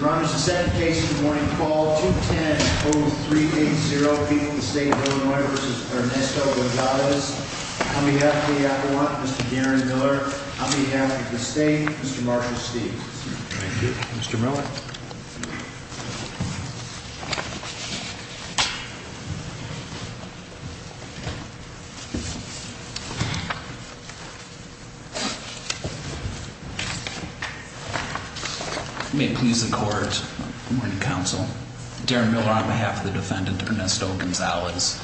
Ron is the second case in the morning call 210-0380 people in the state of Illinois versus Ernesto Gonzalez. On behalf of the Avalon, Mr. Darren Miller. On behalf of the state, Mr. Marshall Steeves. Thank you, Mr. Miller. May it please the court, morning counsel, Darren Miller on behalf of the defendant Ernesto Gonzalez.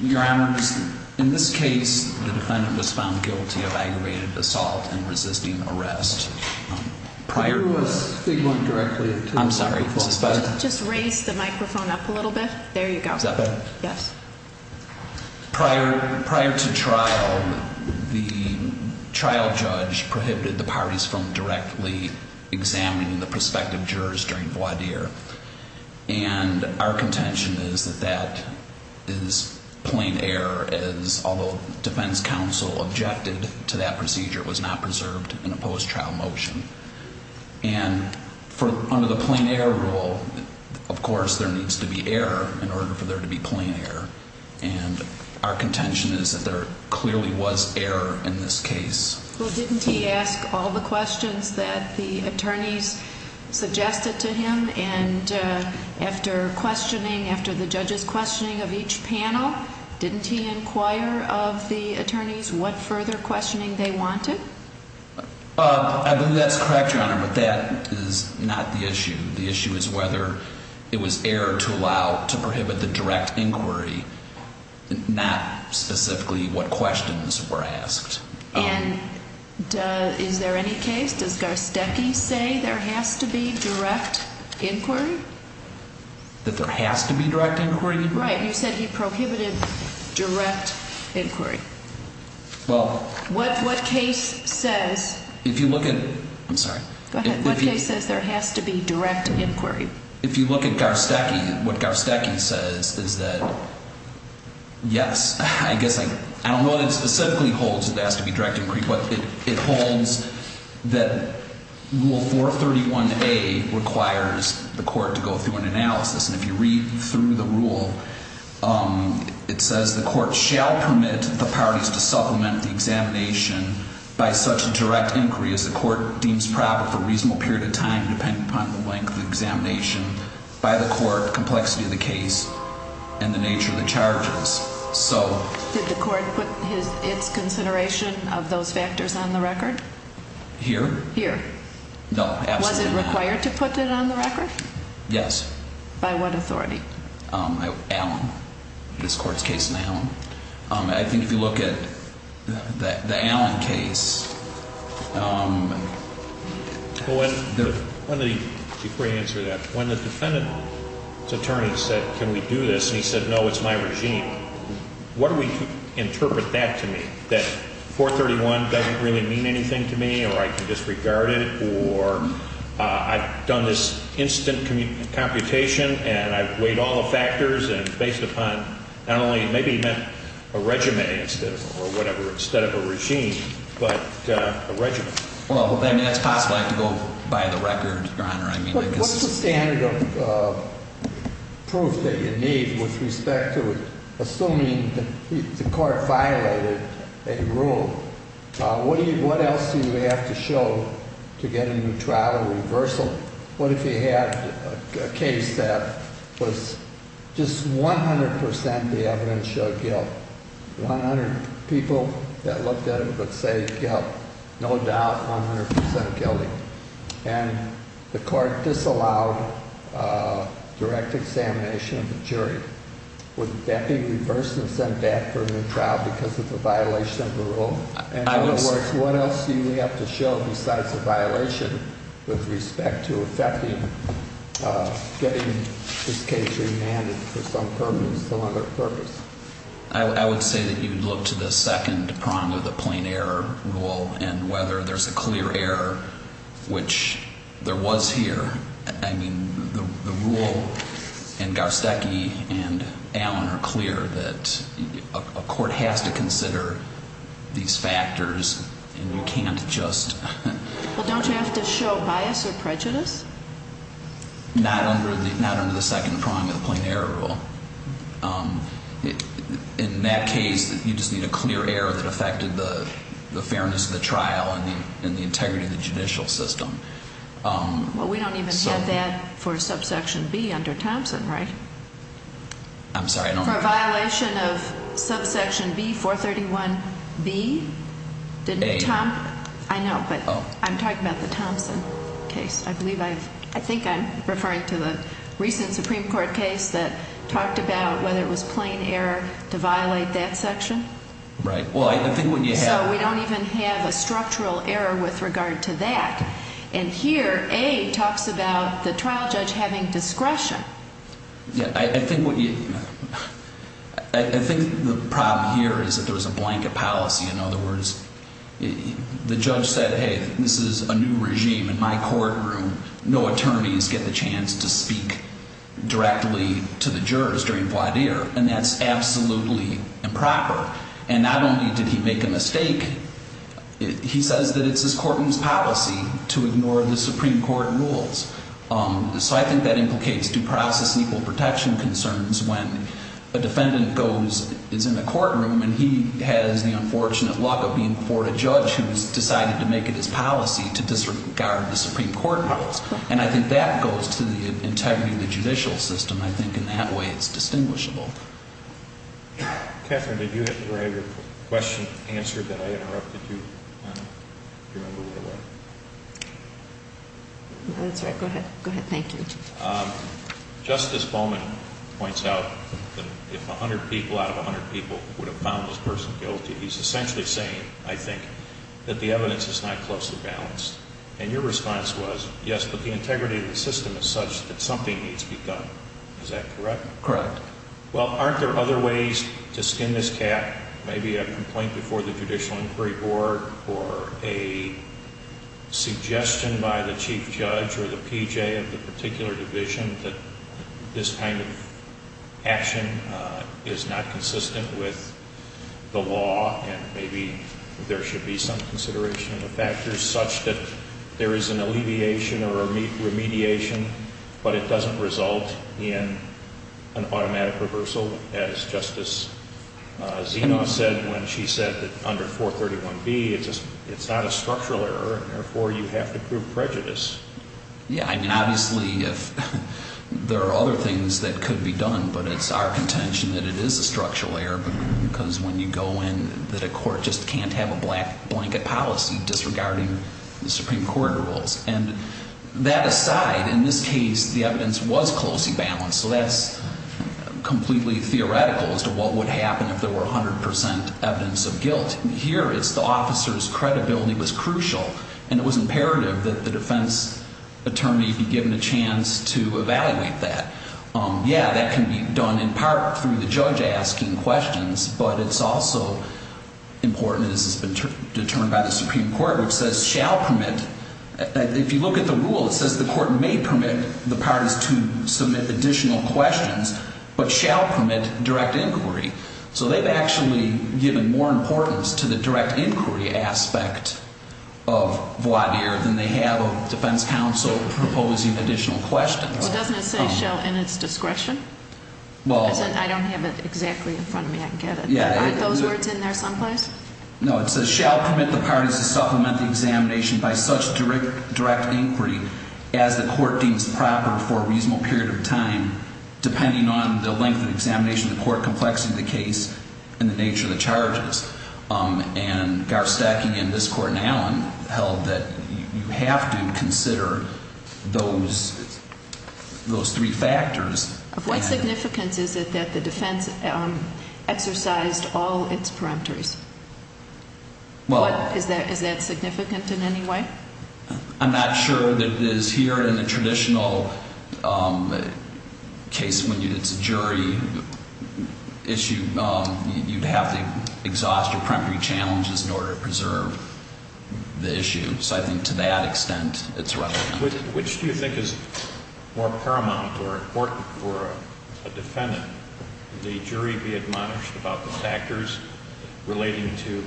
Your honors, in this case the defendant was found guilty of aggravated assault and resisting arrest. Prior to trial, the trial judge prohibited the parties from directly examining the prospective jurors during voir dire and our contention is that that is plain error as although defense counsel objected to that procedure, it was not preserved in a post-trial motion and under the plain error rule, of course, there needs to be error in order for there to be plain error and our contention is that there clearly was error in this case. Well, didn't he ask all the questions that the attorneys suggested to him and after questioning, after the judge's questioning of each panel, didn't he inquire of the attorneys what further questioning they wanted? I believe that's correct, your honor, but that is not the issue. The issue is whether it was error to allow, to prohibit the direct inquiry, not specifically what questions were asked. And is there any case, does Garstecki say there has to be direct inquiry? That there has to be direct inquiry? Right, you said he prohibited direct inquiry. Well, what case says, if you look at, I'm sorry, what case says there has to be direct inquiry? If you look at Garstecki, what Garstecki says is that, yes, I guess, I don't know what it specifically holds that there has to be direct inquiry, but it holds that Rule 431A requires the court to go through an analysis. And if you read through the rule, it says the court shall permit the parties to supplement the examination by such a direct inquiry as the court deems proper for a reasonable period of time depending upon the length of the examination by the court, complexity of the case, and the nature of the charges. So- Did the court put its consideration of those factors on the record? Here? Here. No, absolutely not. Was it required to put it on the record? Yes. By what authority? Allen. This court's case in Allen. I think if you look at the Allen case- Before you answer that, when the defendant's attorney said, can we do this, and he said, no, it's my regime, what do we interpret that to mean? That 431 doesn't really mean anything to me, or I can disregard it, or I've done this instant computation and I've weighed all the factors and based upon not only, maybe he meant a regimen instead of a regime, but a regimen. Well, that's possible. I could go by the record, Your Honor. I mean- What's the standard of proof that you need with respect to it, assuming the court violated a rule? What else do you have to show to get a new trial or reversal? What if you had a case that was just 100% the evidence showed guilt? 100 people that looked at it would say guilt, no doubt 100% guilty. And the court disallowed direct examination of the jury. Would that be reversed and sent back for a new trial because of the violation of the rule? In other words, what else do we have to show besides the violation with respect to effecting, getting this case remanded for some purpose, some other purpose? I would say that you look to the second prong of the plain error rule and whether there's a clear error, which there was here. I mean, the rule in Garstecki and Allen are clear that a court has to consider these factors and you can't just- Well, don't you have to show bias or prejudice? Not under the second prong of the plain error rule. In that case, you just need a clear error that affected the fairness of the trial and the integrity of the judicial system. Well, we don't even have that for subsection B under Thompson, right? I'm sorry, I don't- For a violation of subsection B, 431B? A. I know, but I'm talking about the Thompson case. I believe I've, I think I'm referring to the recent Supreme Court case that talked about whether it was plain error to violate that section. Right, well, I think what you have- And here, A, talks about the trial judge having discretion. Yeah, I think what you- I think the problem here is that there was a blanket policy. In other words, the judge said, hey, this is a new regime. In my courtroom, no attorneys get the chance to speak directly to the jurors during voir dire, and that's absolutely improper. And not only did he make a mistake, he says that it's his courtroom's policy to ignore the Supreme Court rules. So I think that implicates due process and equal protection concerns when a defendant goes, is in a courtroom, and he has the unfortunate luck of being before a judge who has decided to make it his policy to disregard the Supreme Court rules. And I think that goes to the integrity of the judicial system. I think in that way, it's distinguishable. Catherine, did you have your question answered that I interrupted you during the voir dire? No, that's all right. Go ahead. Go ahead. Thank you. Justice Bowman points out that if 100 people out of 100 people would have found this person guilty, he's essentially saying, I think, that the evidence is not closely balanced. And your response was, yes, but the integrity of the system is such that something needs to be done. Is that correct? Correct. Well, aren't there other ways to skin this cat? Maybe a complaint before the Judicial Inquiry Board or a suggestion by the chief judge or the PJ of the particular division that this kind of action is not consistent with the law, and maybe there should be some consideration of the factors such that there is an alleviation or remediation, but it doesn't result in an automatic reversal, as Justice Zeno said when she said that under 431B, it's not a structural error, and therefore, you have to prove prejudice. Yeah, I mean, obviously, there are other things that could be done, but it's our contention that it is a structural error because when you go in, that a court just can't have a black blanket policy disregarding the Supreme Court rules. And that aside, in this case, the evidence was closely balanced, so that's completely theoretical as to what would happen if there were 100 percent evidence of guilt. Here, it's the officer's credibility was crucial, and it was imperative that the defense attorney be given a chance to evaluate that. Yeah, that can be done in part through the judge asking questions, but it's also important, and this has been determined by the Supreme Court, which says, if you look at the rule, it says the court may permit the parties to submit additional questions, but shall permit direct inquiry. So they've actually given more importance to the direct inquiry aspect of voir dire than they have of defense counsel proposing additional questions. Doesn't it say shall in its discretion? I don't have it exactly in front of me. I can get it. Aren't those words in there someplace? No, it says shall permit the parties to supplement the examination by such direct inquiry as the court deems proper for a reasonable period of time, depending on the length of the examination, the court complexity of the case, and the nature of the charges. And Garth Stacking in this court in Allen held that you have to consider those three factors. Of what significance is it that the defense exercised all its peremptories? Is that significant in any way? I'm not sure that it is here in the traditional case when it's a jury issue. You'd have to exhaust your peremptory challenges in order to preserve the issue. So I think to that extent, it's relevant. Which do you think is more paramount or important for a defendant? The jury be admonished about the factors relating to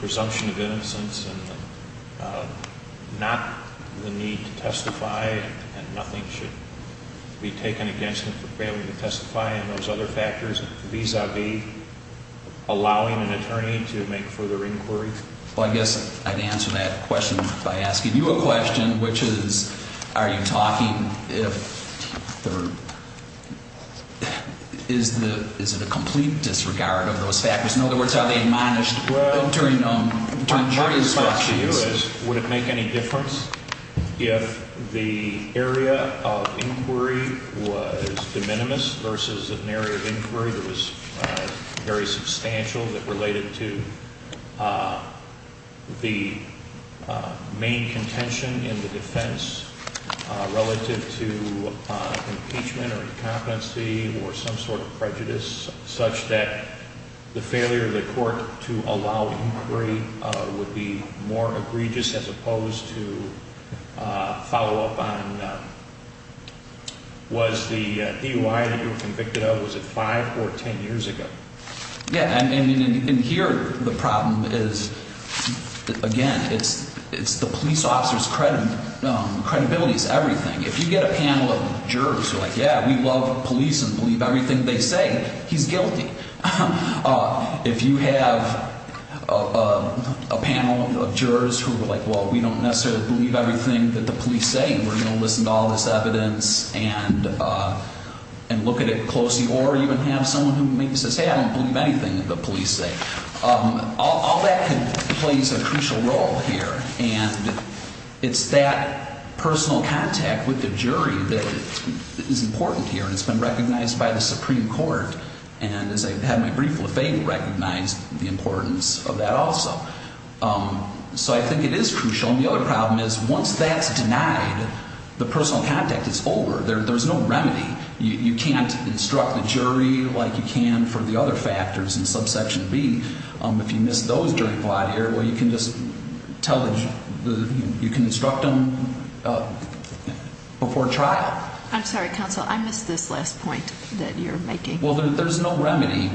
presumption of innocence and not the need to testify and nothing should be taken against him for failing to testify and those other factors vis-a-vis allowing an attorney to make further inquiries? Well, I guess I'd answer that question by asking you a question, which is are you talking if there is the, is it a complete disregard of those factors? In other words, are they admonished during jury discussions? Well, my question to you is would it make any difference if the area of inquiry was de minimis versus an area of inquiry that was very substantial that related to the main contention in the defense relative to impeachment or incompetency or some sort of prejudice, such that the failure of the court to allow inquiry would be more egregious as opposed to follow up on Was the DUI that you were convicted of, was it five or ten years ago? Yeah, and here the problem is, again, it's the police officer's credibility is everything. If you get a panel of jurors who are like, yeah, we love police and believe everything they say, he's guilty. If you have a panel of jurors who are like, well, we don't necessarily believe everything that the police say and we're going to listen to all this evidence and look at it closely or even have someone who maybe says, hey, I don't believe anything that the police say, all that plays a crucial role here. And it's that personal contact with the jury that is important here. And it's been recognized by the Supreme Court. And as I had my brief, Lafayette recognized the importance of that also. So I think it is crucial. And the other problem is once that's denied, the personal contact is over. There's no remedy. You can't instruct the jury like you can for the other factors in subsection B. If you miss those during a plot here, well, you can just tell the jury, you can instruct them before trial. I'm sorry, counsel. I missed this last point that you're making. Well, there's no remedy.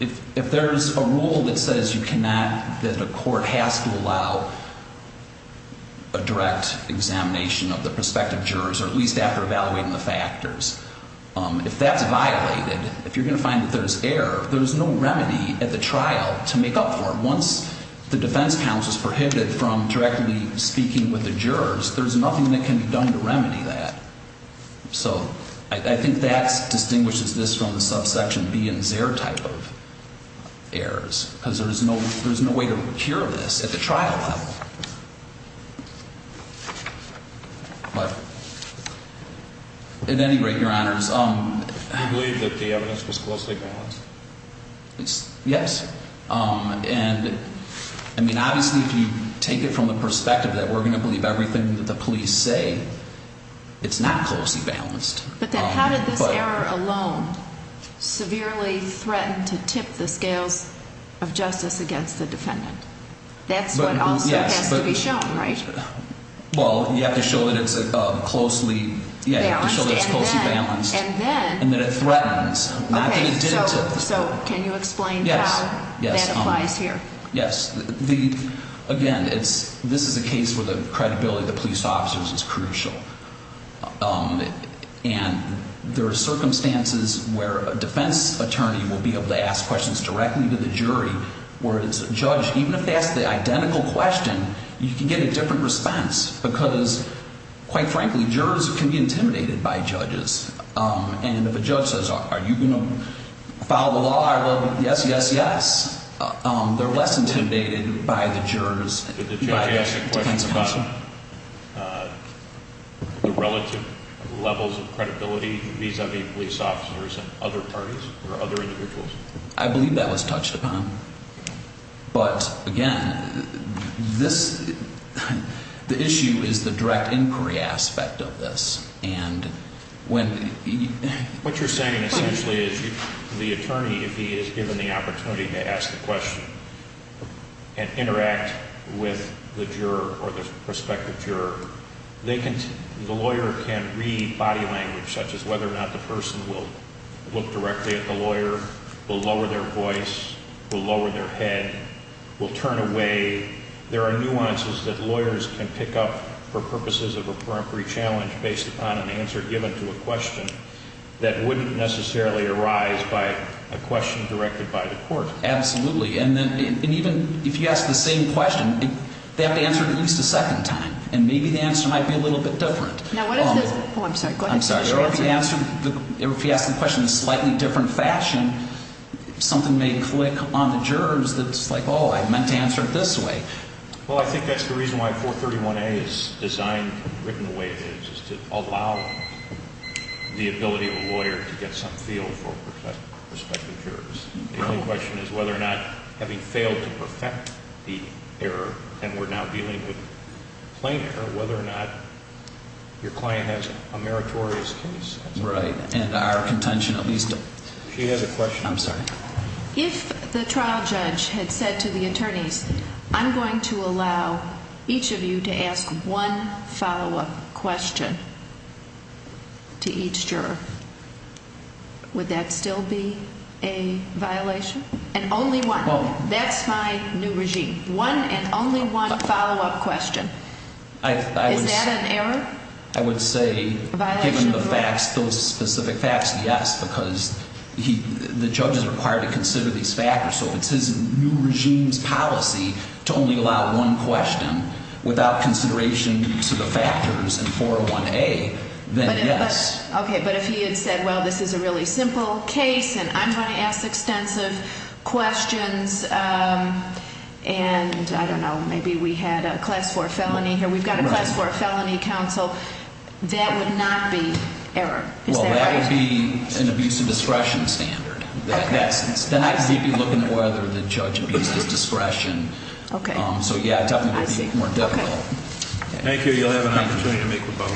If there's a rule that says you cannot, that a court has to allow a direct examination of the prospective jurors or at least after evaluating the factors, if that's violated, if you're going to find that there's error, there's no remedy at the trial to make up for it. Once the defense counsel is prohibited from directly speaking with the jurors, there's nothing that can be done to remedy that. So I think that distinguishes this from the subsection B and Xer type of errors because there's no way to cure this at the trial level. But at any rate, Your Honors. Do you believe that the evidence was closely balanced? Yes. And I mean, obviously, if you take it from the perspective that we're going to believe everything that the police say, it's not closely balanced. But then how did this error alone severely threaten to tip the scales of justice against the defendant? That's what also has to be shown, right? Well, you have to show that it's closely balanced and that it threatens. So can you explain how that applies here? Yes. Again, this is a case where the credibility of the police officers is crucial. And there are circumstances where a defense attorney will be able to ask questions directly to the jury, whereas a judge, even if they ask the identical question, you can get a different response because, quite frankly, jurors can be intimidated by judges. And if a judge says, are you going to follow the law? Yes, yes, yes. They're less intimidated by the jurors. Did the judge ask a question about the relative levels of credibility vis-a-vis police officers and other parties or other individuals? I believe that was touched upon. But, again, the issue is the direct inquiry aspect of this. What you're saying essentially is the attorney, if he is given the opportunity to ask a question and interact with the juror or the prospective juror, the lawyer can read body language, such as whether or not the person will look directly at the lawyer, will lower their voice, will lower their head, will turn away. There are nuances that lawyers can pick up for purposes of a peremptory challenge based upon an answer given to a question that wouldn't necessarily arise by a question directed by the court. Absolutely. And even if you ask the same question, they have to answer it at least a second time. And maybe the answer might be a little bit different. Now, what if it's... Oh, I'm sorry. Go ahead. I'm sorry. If you ask the question in a slightly different fashion, something may click on the jurors that's like, oh, I meant to answer it this way. Well, I think that's the reason why 431A is designed, written the way it is, is to allow the ability of a lawyer to get some feel for prospective jurors. The only question is whether or not, having failed to perfect the error, and we're now dealing with plain error, whether or not your client has a meritorious case. Right. And our contention at least... She has a question. I'm sorry. If the trial judge had said to the attorneys, I'm going to allow each of you to ask one follow-up question to each juror, would that still be a violation? And only one. That's my new regime. One and only one follow-up question. Is that an error? I would say given the facts, those specific facts, yes, because the judge is required to consider these factors. So if it's his new regime's policy to only allow one question without consideration to the factors in 401A, then yes. Okay. But if he had said, well, this is a really simple case, and I'm going to ask extensive questions, and I don't know, maybe we had a class 4 felony here. So that would not be error? Well, that would be an abuse of discretion standard. Then I'd be looking at whether the judge abuses discretion. Okay. So, yeah, definitely would be more difficult. Okay. Thank you. You'll have an opportunity to make your vote.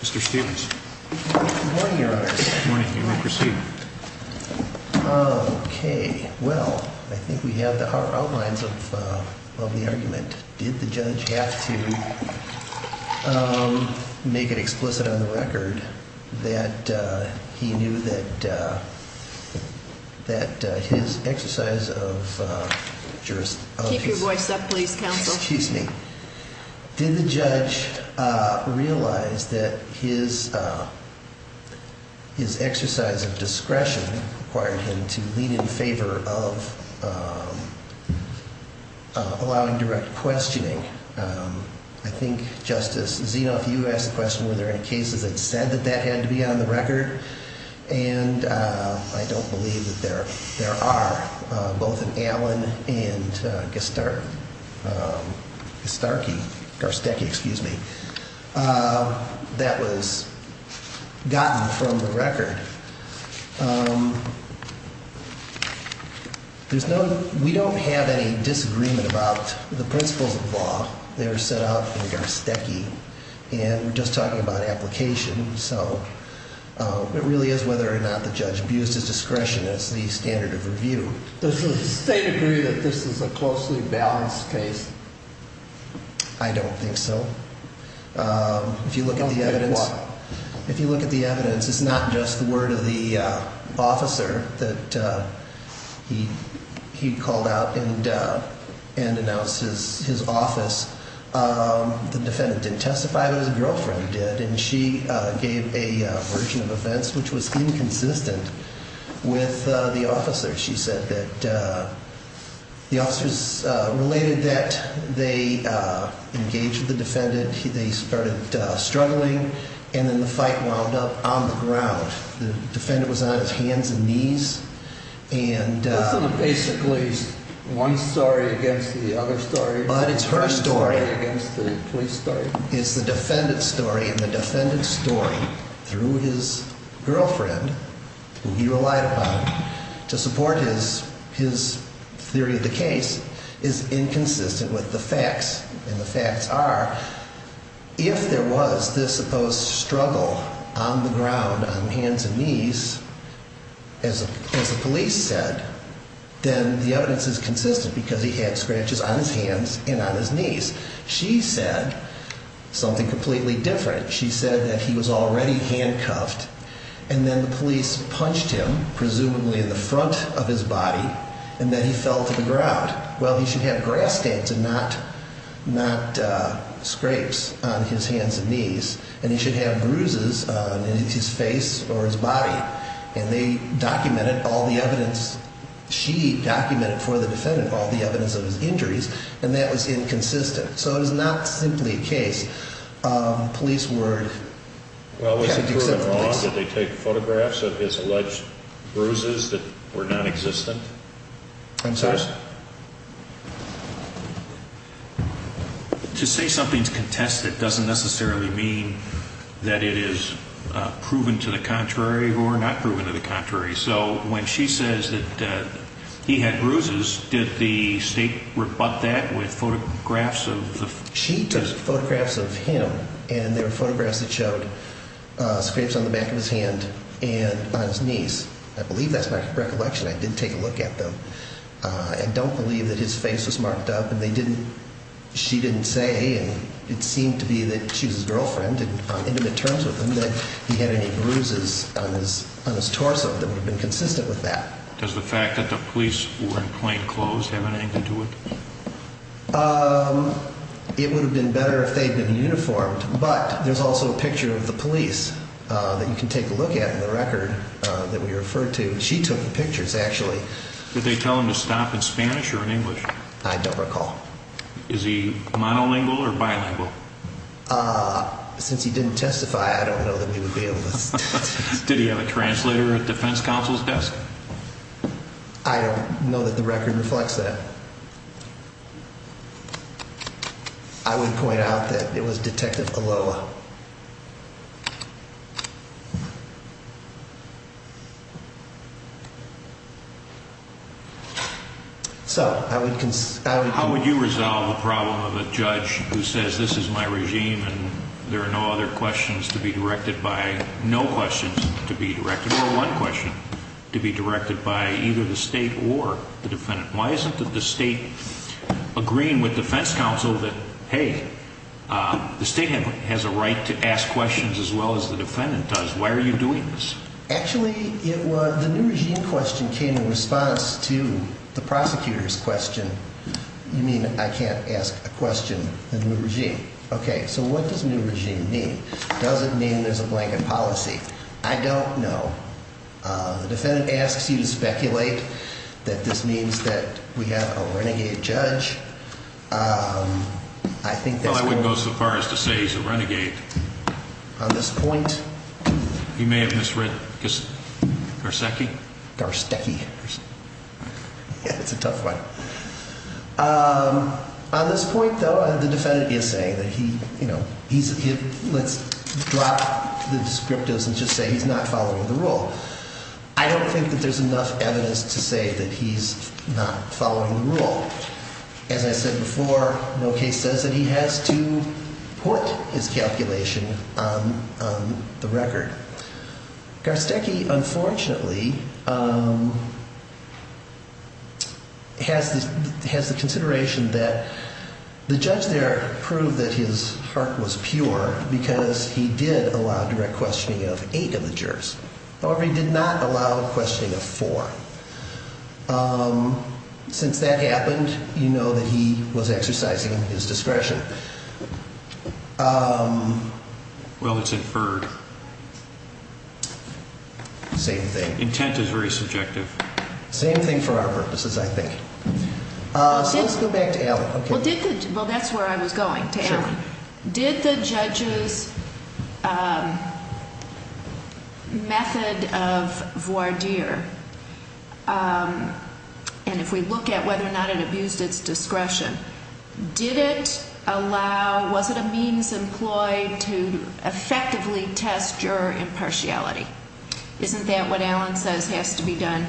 Mr. Stephens. Good morning, Your Honors. Good morning. You may proceed. Okay. Well, I think we have the outlines of the argument. Did the judge have to make it explicit on the record that he knew that his exercise of jurisdiction? Keep your voice up, please, counsel. Excuse me. Did the judge realize that his exercise of discretion required him to lean in favor of allowing direct questioning? I think, Justice Zeno, if you asked the question, were there any cases that said that that had to be on the record? And I don't believe that there are. Both in Allen and Garstecki, that was gotten from the record. We don't have any disagreement about the principles of the law. They were set out in Garstecki, and we're just talking about application. So it really is whether or not the judge views his discretion as the standard of review. Does the state agree that this is a closely balanced case? I don't think so. If you look at the evidence, it's not just the word of the officer that he called out and announced his office. The defendant didn't testify, but his girlfriend did, and she gave a version of events which was inconsistent with the officer. She said that the officers related that they engaged with the defendant, they started struggling, and then the fight wound up on the ground. The defendant was on his hands and knees. Isn't it basically one story against the other story? But it's her story against the police story. It's the defendant's story, and the defendant's story through his girlfriend, who he relied upon to support his theory of the case, is inconsistent with the facts. And the facts are, if there was this supposed struggle on the ground, on hands and knees, as the police said, then the evidence is consistent because he had scratches on his hands and on his knees. She said something completely different. She said that he was already handcuffed, and then the police punched him, presumably in the front of his body, and then he fell to the ground. Well, he should have grass stains and not scrapes on his hands and knees, and he should have bruises on his face or his body. And they documented all the evidence. She documented for the defendant all the evidence of his injuries, and that was inconsistent. So it was not simply a case. Police were... Well, was it proven wrong that they take photographs of his alleged bruises that were nonexistent? Answers? To say something's contested doesn't necessarily mean that it is proven to the contrary or not proven to the contrary. So when she says that he had bruises, did the state rebut that with photographs of the... She took photographs of him, and there were photographs that showed scrapes on the back of his hand and on his knees. I believe that's my recollection. I did take a look at them. I don't believe that his face was marked up, and they didn't... She didn't say, and it seemed to be that she was his girlfriend, and on intimate terms with him, that he had any bruises on his torso that would have been consistent with that. Does the fact that the police were in plain clothes have anything to do with it? It would have been better if they had been uniformed, but there's also a picture of the police that you can take a look at in the record that we referred to. She took the pictures, actually. Did they tell him to stop in Spanish or in English? I don't recall. Is he monolingual or bilingual? Since he didn't testify, I don't know that we would be able to... Did he have a translator at defense counsel's desk? I don't know that the record reflects that. I would point out that it was Detective Aloa. So I would... How would you resolve the problem of a judge who says, this is my regime, and there are no other questions to be directed by... No questions to be directed, or one question to be directed by either the state or the defendant. Why isn't the state agreeing with defense counsel that, hey, the state has a right to ask questions as well as the defendant does? Why are you doing this? Actually, the new regime question came in response to the prosecutor's question. You mean I can't ask a question in the new regime? Okay, so what does new regime mean? Does it mean there's a blanket policy? I don't know. The defendant asks you to speculate that this means that we have a renegade judge. Well, I wouldn't go so far as to say he's a renegade. On this point... You may have misread Garcecki. Garcecki. Yeah, that's a tough one. On this point, though, the defendant is saying that he, you know, he's... Let's drop the descriptives and just say he's not following the rule. I don't think that there's enough evidence to say that he's not following the rule. As I said before, no case says that he has to put his calculation on the record. Garcecki, unfortunately, has the consideration that the judge there proved that his heart was pure because he did allow direct questioning of eight of the jurors. However, he did not allow questioning of four. Since that happened, you know that he was exercising his discretion. Well, it's inferred. Same thing. Intent is very subjective. Same thing for our purposes, I think. So let's go back to Allen. Well, that's where I was going, to Allen. Did the judge's method of voir dire, and if we look at whether or not it abused its discretion, did it allow, was it a means employed to effectively test juror impartiality? Isn't that what Allen says has to be done?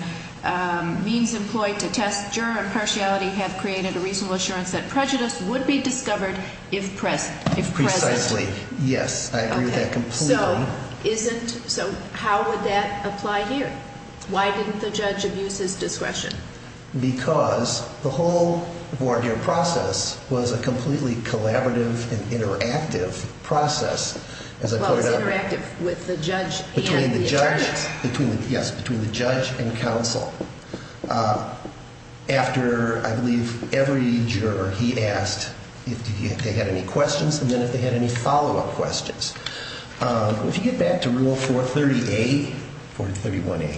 Means employed to test juror impartiality have created a reasonable assurance that prejudice would be discovered if present. Precisely. Yes, I agree with that completely. So how would that apply here? Why didn't the judge abuse his discretion? Because the whole voir dire process was a completely collaborative and interactive process. Well, it's interactive with the judge and the attorneys. Yes, between the judge and counsel. After, I believe, every juror, he asked if they had any questions, and then if they had any follow-up questions. If you get back to Rule 430A, 431A,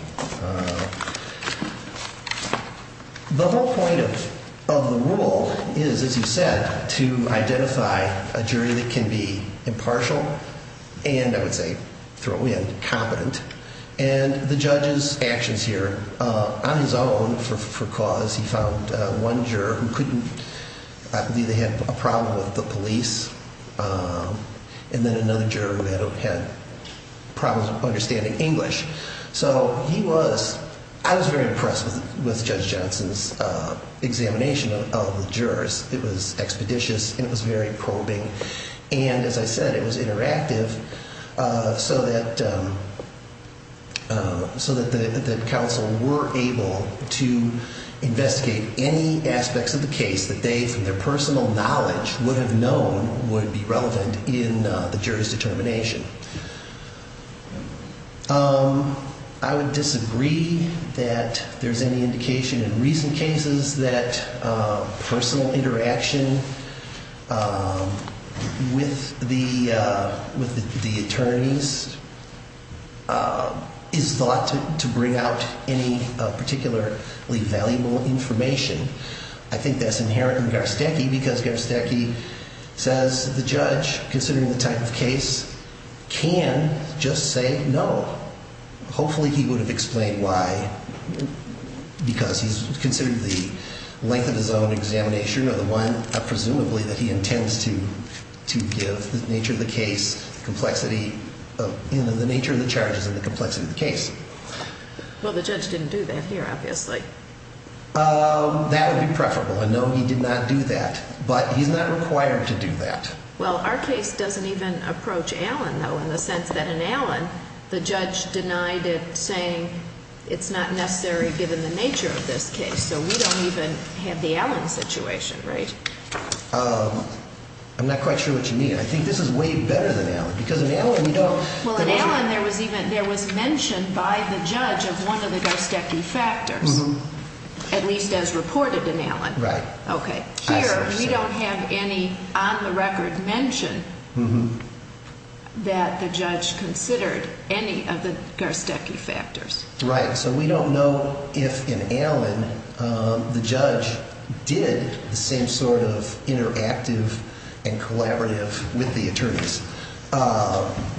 the whole point of the rule is, as you said, to identify a jury that can be impartial and, I would say, throw in, competent. And the judge's actions here, on his own, for cause, he found one juror who couldn't, I believe they had a problem with the police, and then another juror who had problems with understanding English. So he was, I was very impressed with Judge Johnson's examination of the jurors. It was expeditious and it was very probing. And, as I said, it was interactive so that the counsel were able to investigate any aspects of the case that they, from their personal knowledge, would have known would be relevant in the jury's determination. I would disagree that there's any indication in recent cases that personal interaction with the attorneys is thought to bring out any particularly valuable information. I think that's inherent in Garstecki because Garstecki says the judge, considering the type of case, can just say no. Hopefully he would have explained why, because he's considered the length of his own examination, or the one, presumably, that he intends to give the nature of the case, complexity, you know, the nature of the charges and the complexity of the case. Well, the judge didn't do that here, obviously. That would be preferable. No, he did not do that. But he's not required to do that. Well, our case doesn't even approach Allen, though, in the sense that in Allen the judge denied it, saying it's not necessary given the nature of this case. So we don't even have the Allen situation, right? I'm not quite sure what you mean. I think this is way better than Allen, because in Allen we don't. Well, in Allen there was mentioned by the judge of one of the Garstecki factors, at least as reported in Allen. Right. Okay. Here we don't have any on the record mention that the judge considered any of the Garstecki factors. Right. So we don't know if in Allen the judge did the same sort of interactive and collaborative with the attorneys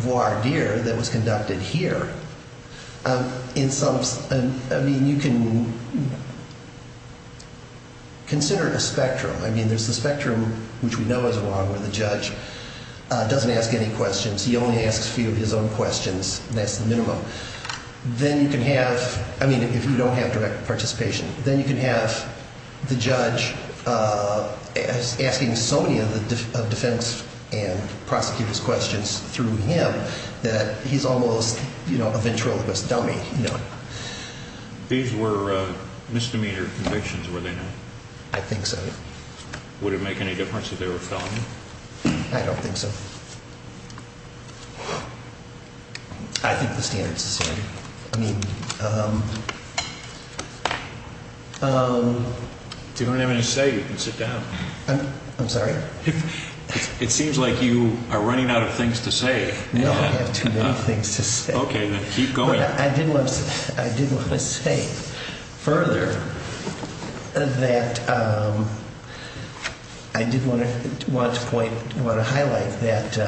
voir dire that was conducted here. I mean, you can consider a spectrum. I mean, there's the spectrum which we know is wrong where the judge doesn't ask any questions. He only asks a few of his own questions. That's the minimum. Then you can have – I mean, if you don't have direct participation. Then you can have the judge asking so many of the defense and prosecutor's questions through him that he's almost a ventriloquist dummy. These were misdemeanor convictions, were they not? I think so. Would it make any difference if they were felony? I don't think so. I think the standards are the same. I mean – If you don't have anything to say, you can sit down. I'm sorry? It seems like you are running out of things to say. No, I have too many things to say. Okay, then keep going. I did want to say further that I did want to highlight that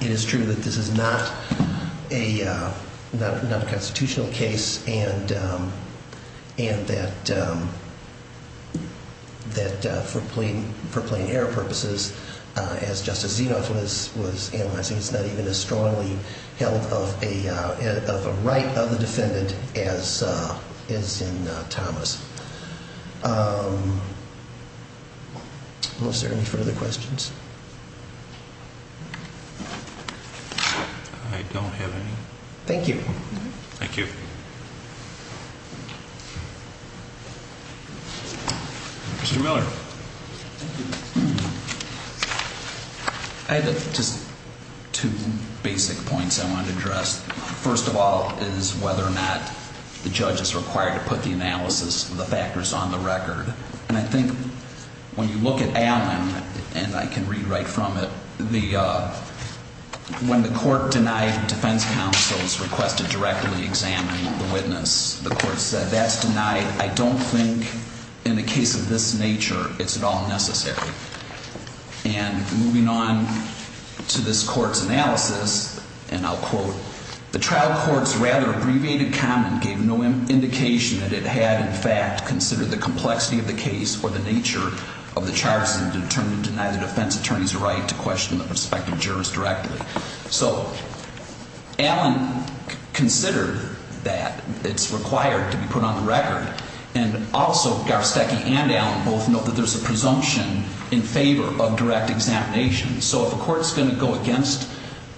it is true that this is not a constitutional case. And that for plain error purposes, as Justice Zenoff was analyzing, it's not even as strongly held of a right of the defendant as is in Thomas. Are there any further questions? I don't have any. Thank you. Thank you. Mr. Miller. I have just two basic points I want to address. First of all is whether or not the judge is required to put the analysis of the factors on the record. And I think when you look at Allen, and I can read right from it, when the court denied defense counsel's request to directly examine the witness, the court said that's denied. I don't think in a case of this nature it's at all necessary. And moving on to this court's analysis, and I'll quote, So the trial court's rather abbreviated comment gave no indication that it had in fact considered the complexity of the case or the nature of the charges and determined to deny the defense attorney's right to question the prospective jurist directly. So Allen considered that it's required to be put on the record. And also Garsteki and Allen both note that there's a presumption in favor of direct examination. So if a court's going to go against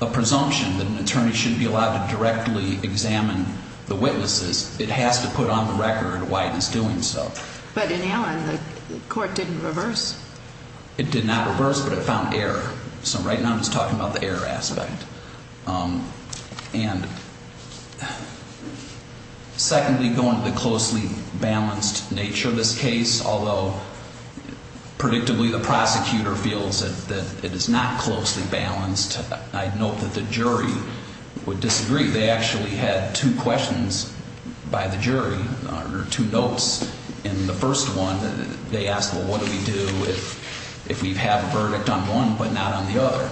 a presumption that an attorney should be allowed to directly examine the witnesses, it has to put on the record why it's doing so. But in Allen, the court didn't reverse. It did not reverse, but it found error. So right now I'm just talking about the error aspect. And secondly, going to the closely balanced nature of this case, although predictably the prosecutor feels that it is not closely balanced, I note that the jury would disagree. They actually had two questions by the jury or two notes in the first one. They asked, well, what do we do if we have a verdict on one but not on the other?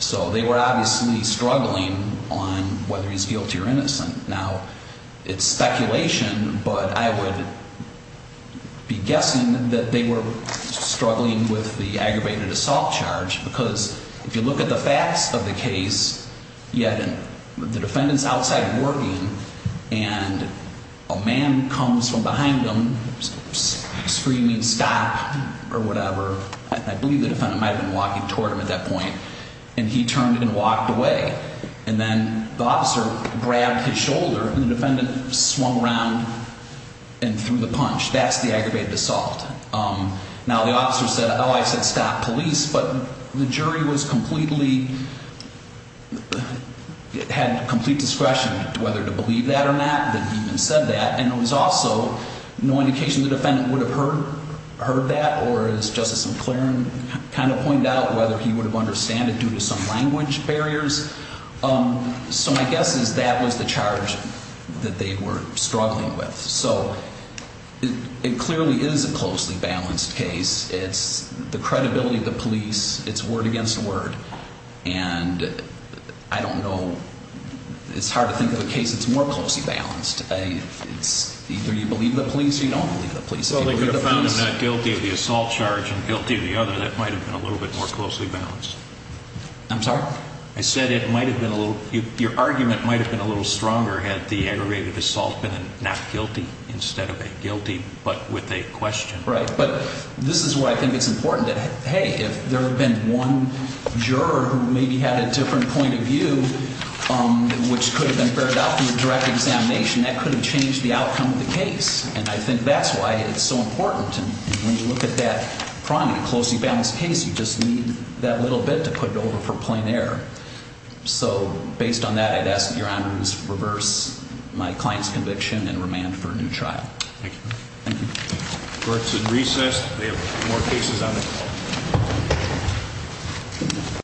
So they were obviously struggling on whether he's guilty or innocent. Now, it's speculation, but I would be guessing that they were struggling with the aggravated assault charge because if you look at the facts of the case, you had the defendants outside working and a man comes from behind them screaming stop or whatever. I believe the defendant might have been walking toward him at that point. And he turned and walked away. And then the officer grabbed his shoulder and the defendant swung around and threw the punch. That's the aggravated assault. Now, the officer said, oh, I said stop police. But the jury was completely, had complete discretion whether to believe that or not that he even said that. And there was also no indication the defendant would have heard that or as Justice McClaren kind of pointed out, whether he would have understood it due to some language barriers. So my guess is that was the charge that they were struggling with. So it clearly is a closely balanced case. It's the credibility of the police. It's word against word. And I don't know. It's hard to think of a case that's more closely balanced. It's either you believe the police or you don't believe the police. Well, they could have found him not guilty of the assault charge and guilty of the other. That might have been a little bit more closely balanced. I'm sorry? I said it might have been a little, your argument might have been a little stronger had the aggravated assault been a not guilty instead of a guilty but with a question. Right. But this is why I think it's important that, hey, if there had been one juror who maybe had a different point of view, which could have been fared out through a direct examination, that could have changed the outcome of the case. And I think that's why it's so important. And when you look at that, probably a closely balanced case, you just need that little bit to put it over for plain error. So based on that, I'd ask that your honors reverse my client's conviction and remand for a new trial. Thank you. Court's in recess. We have more cases on the call.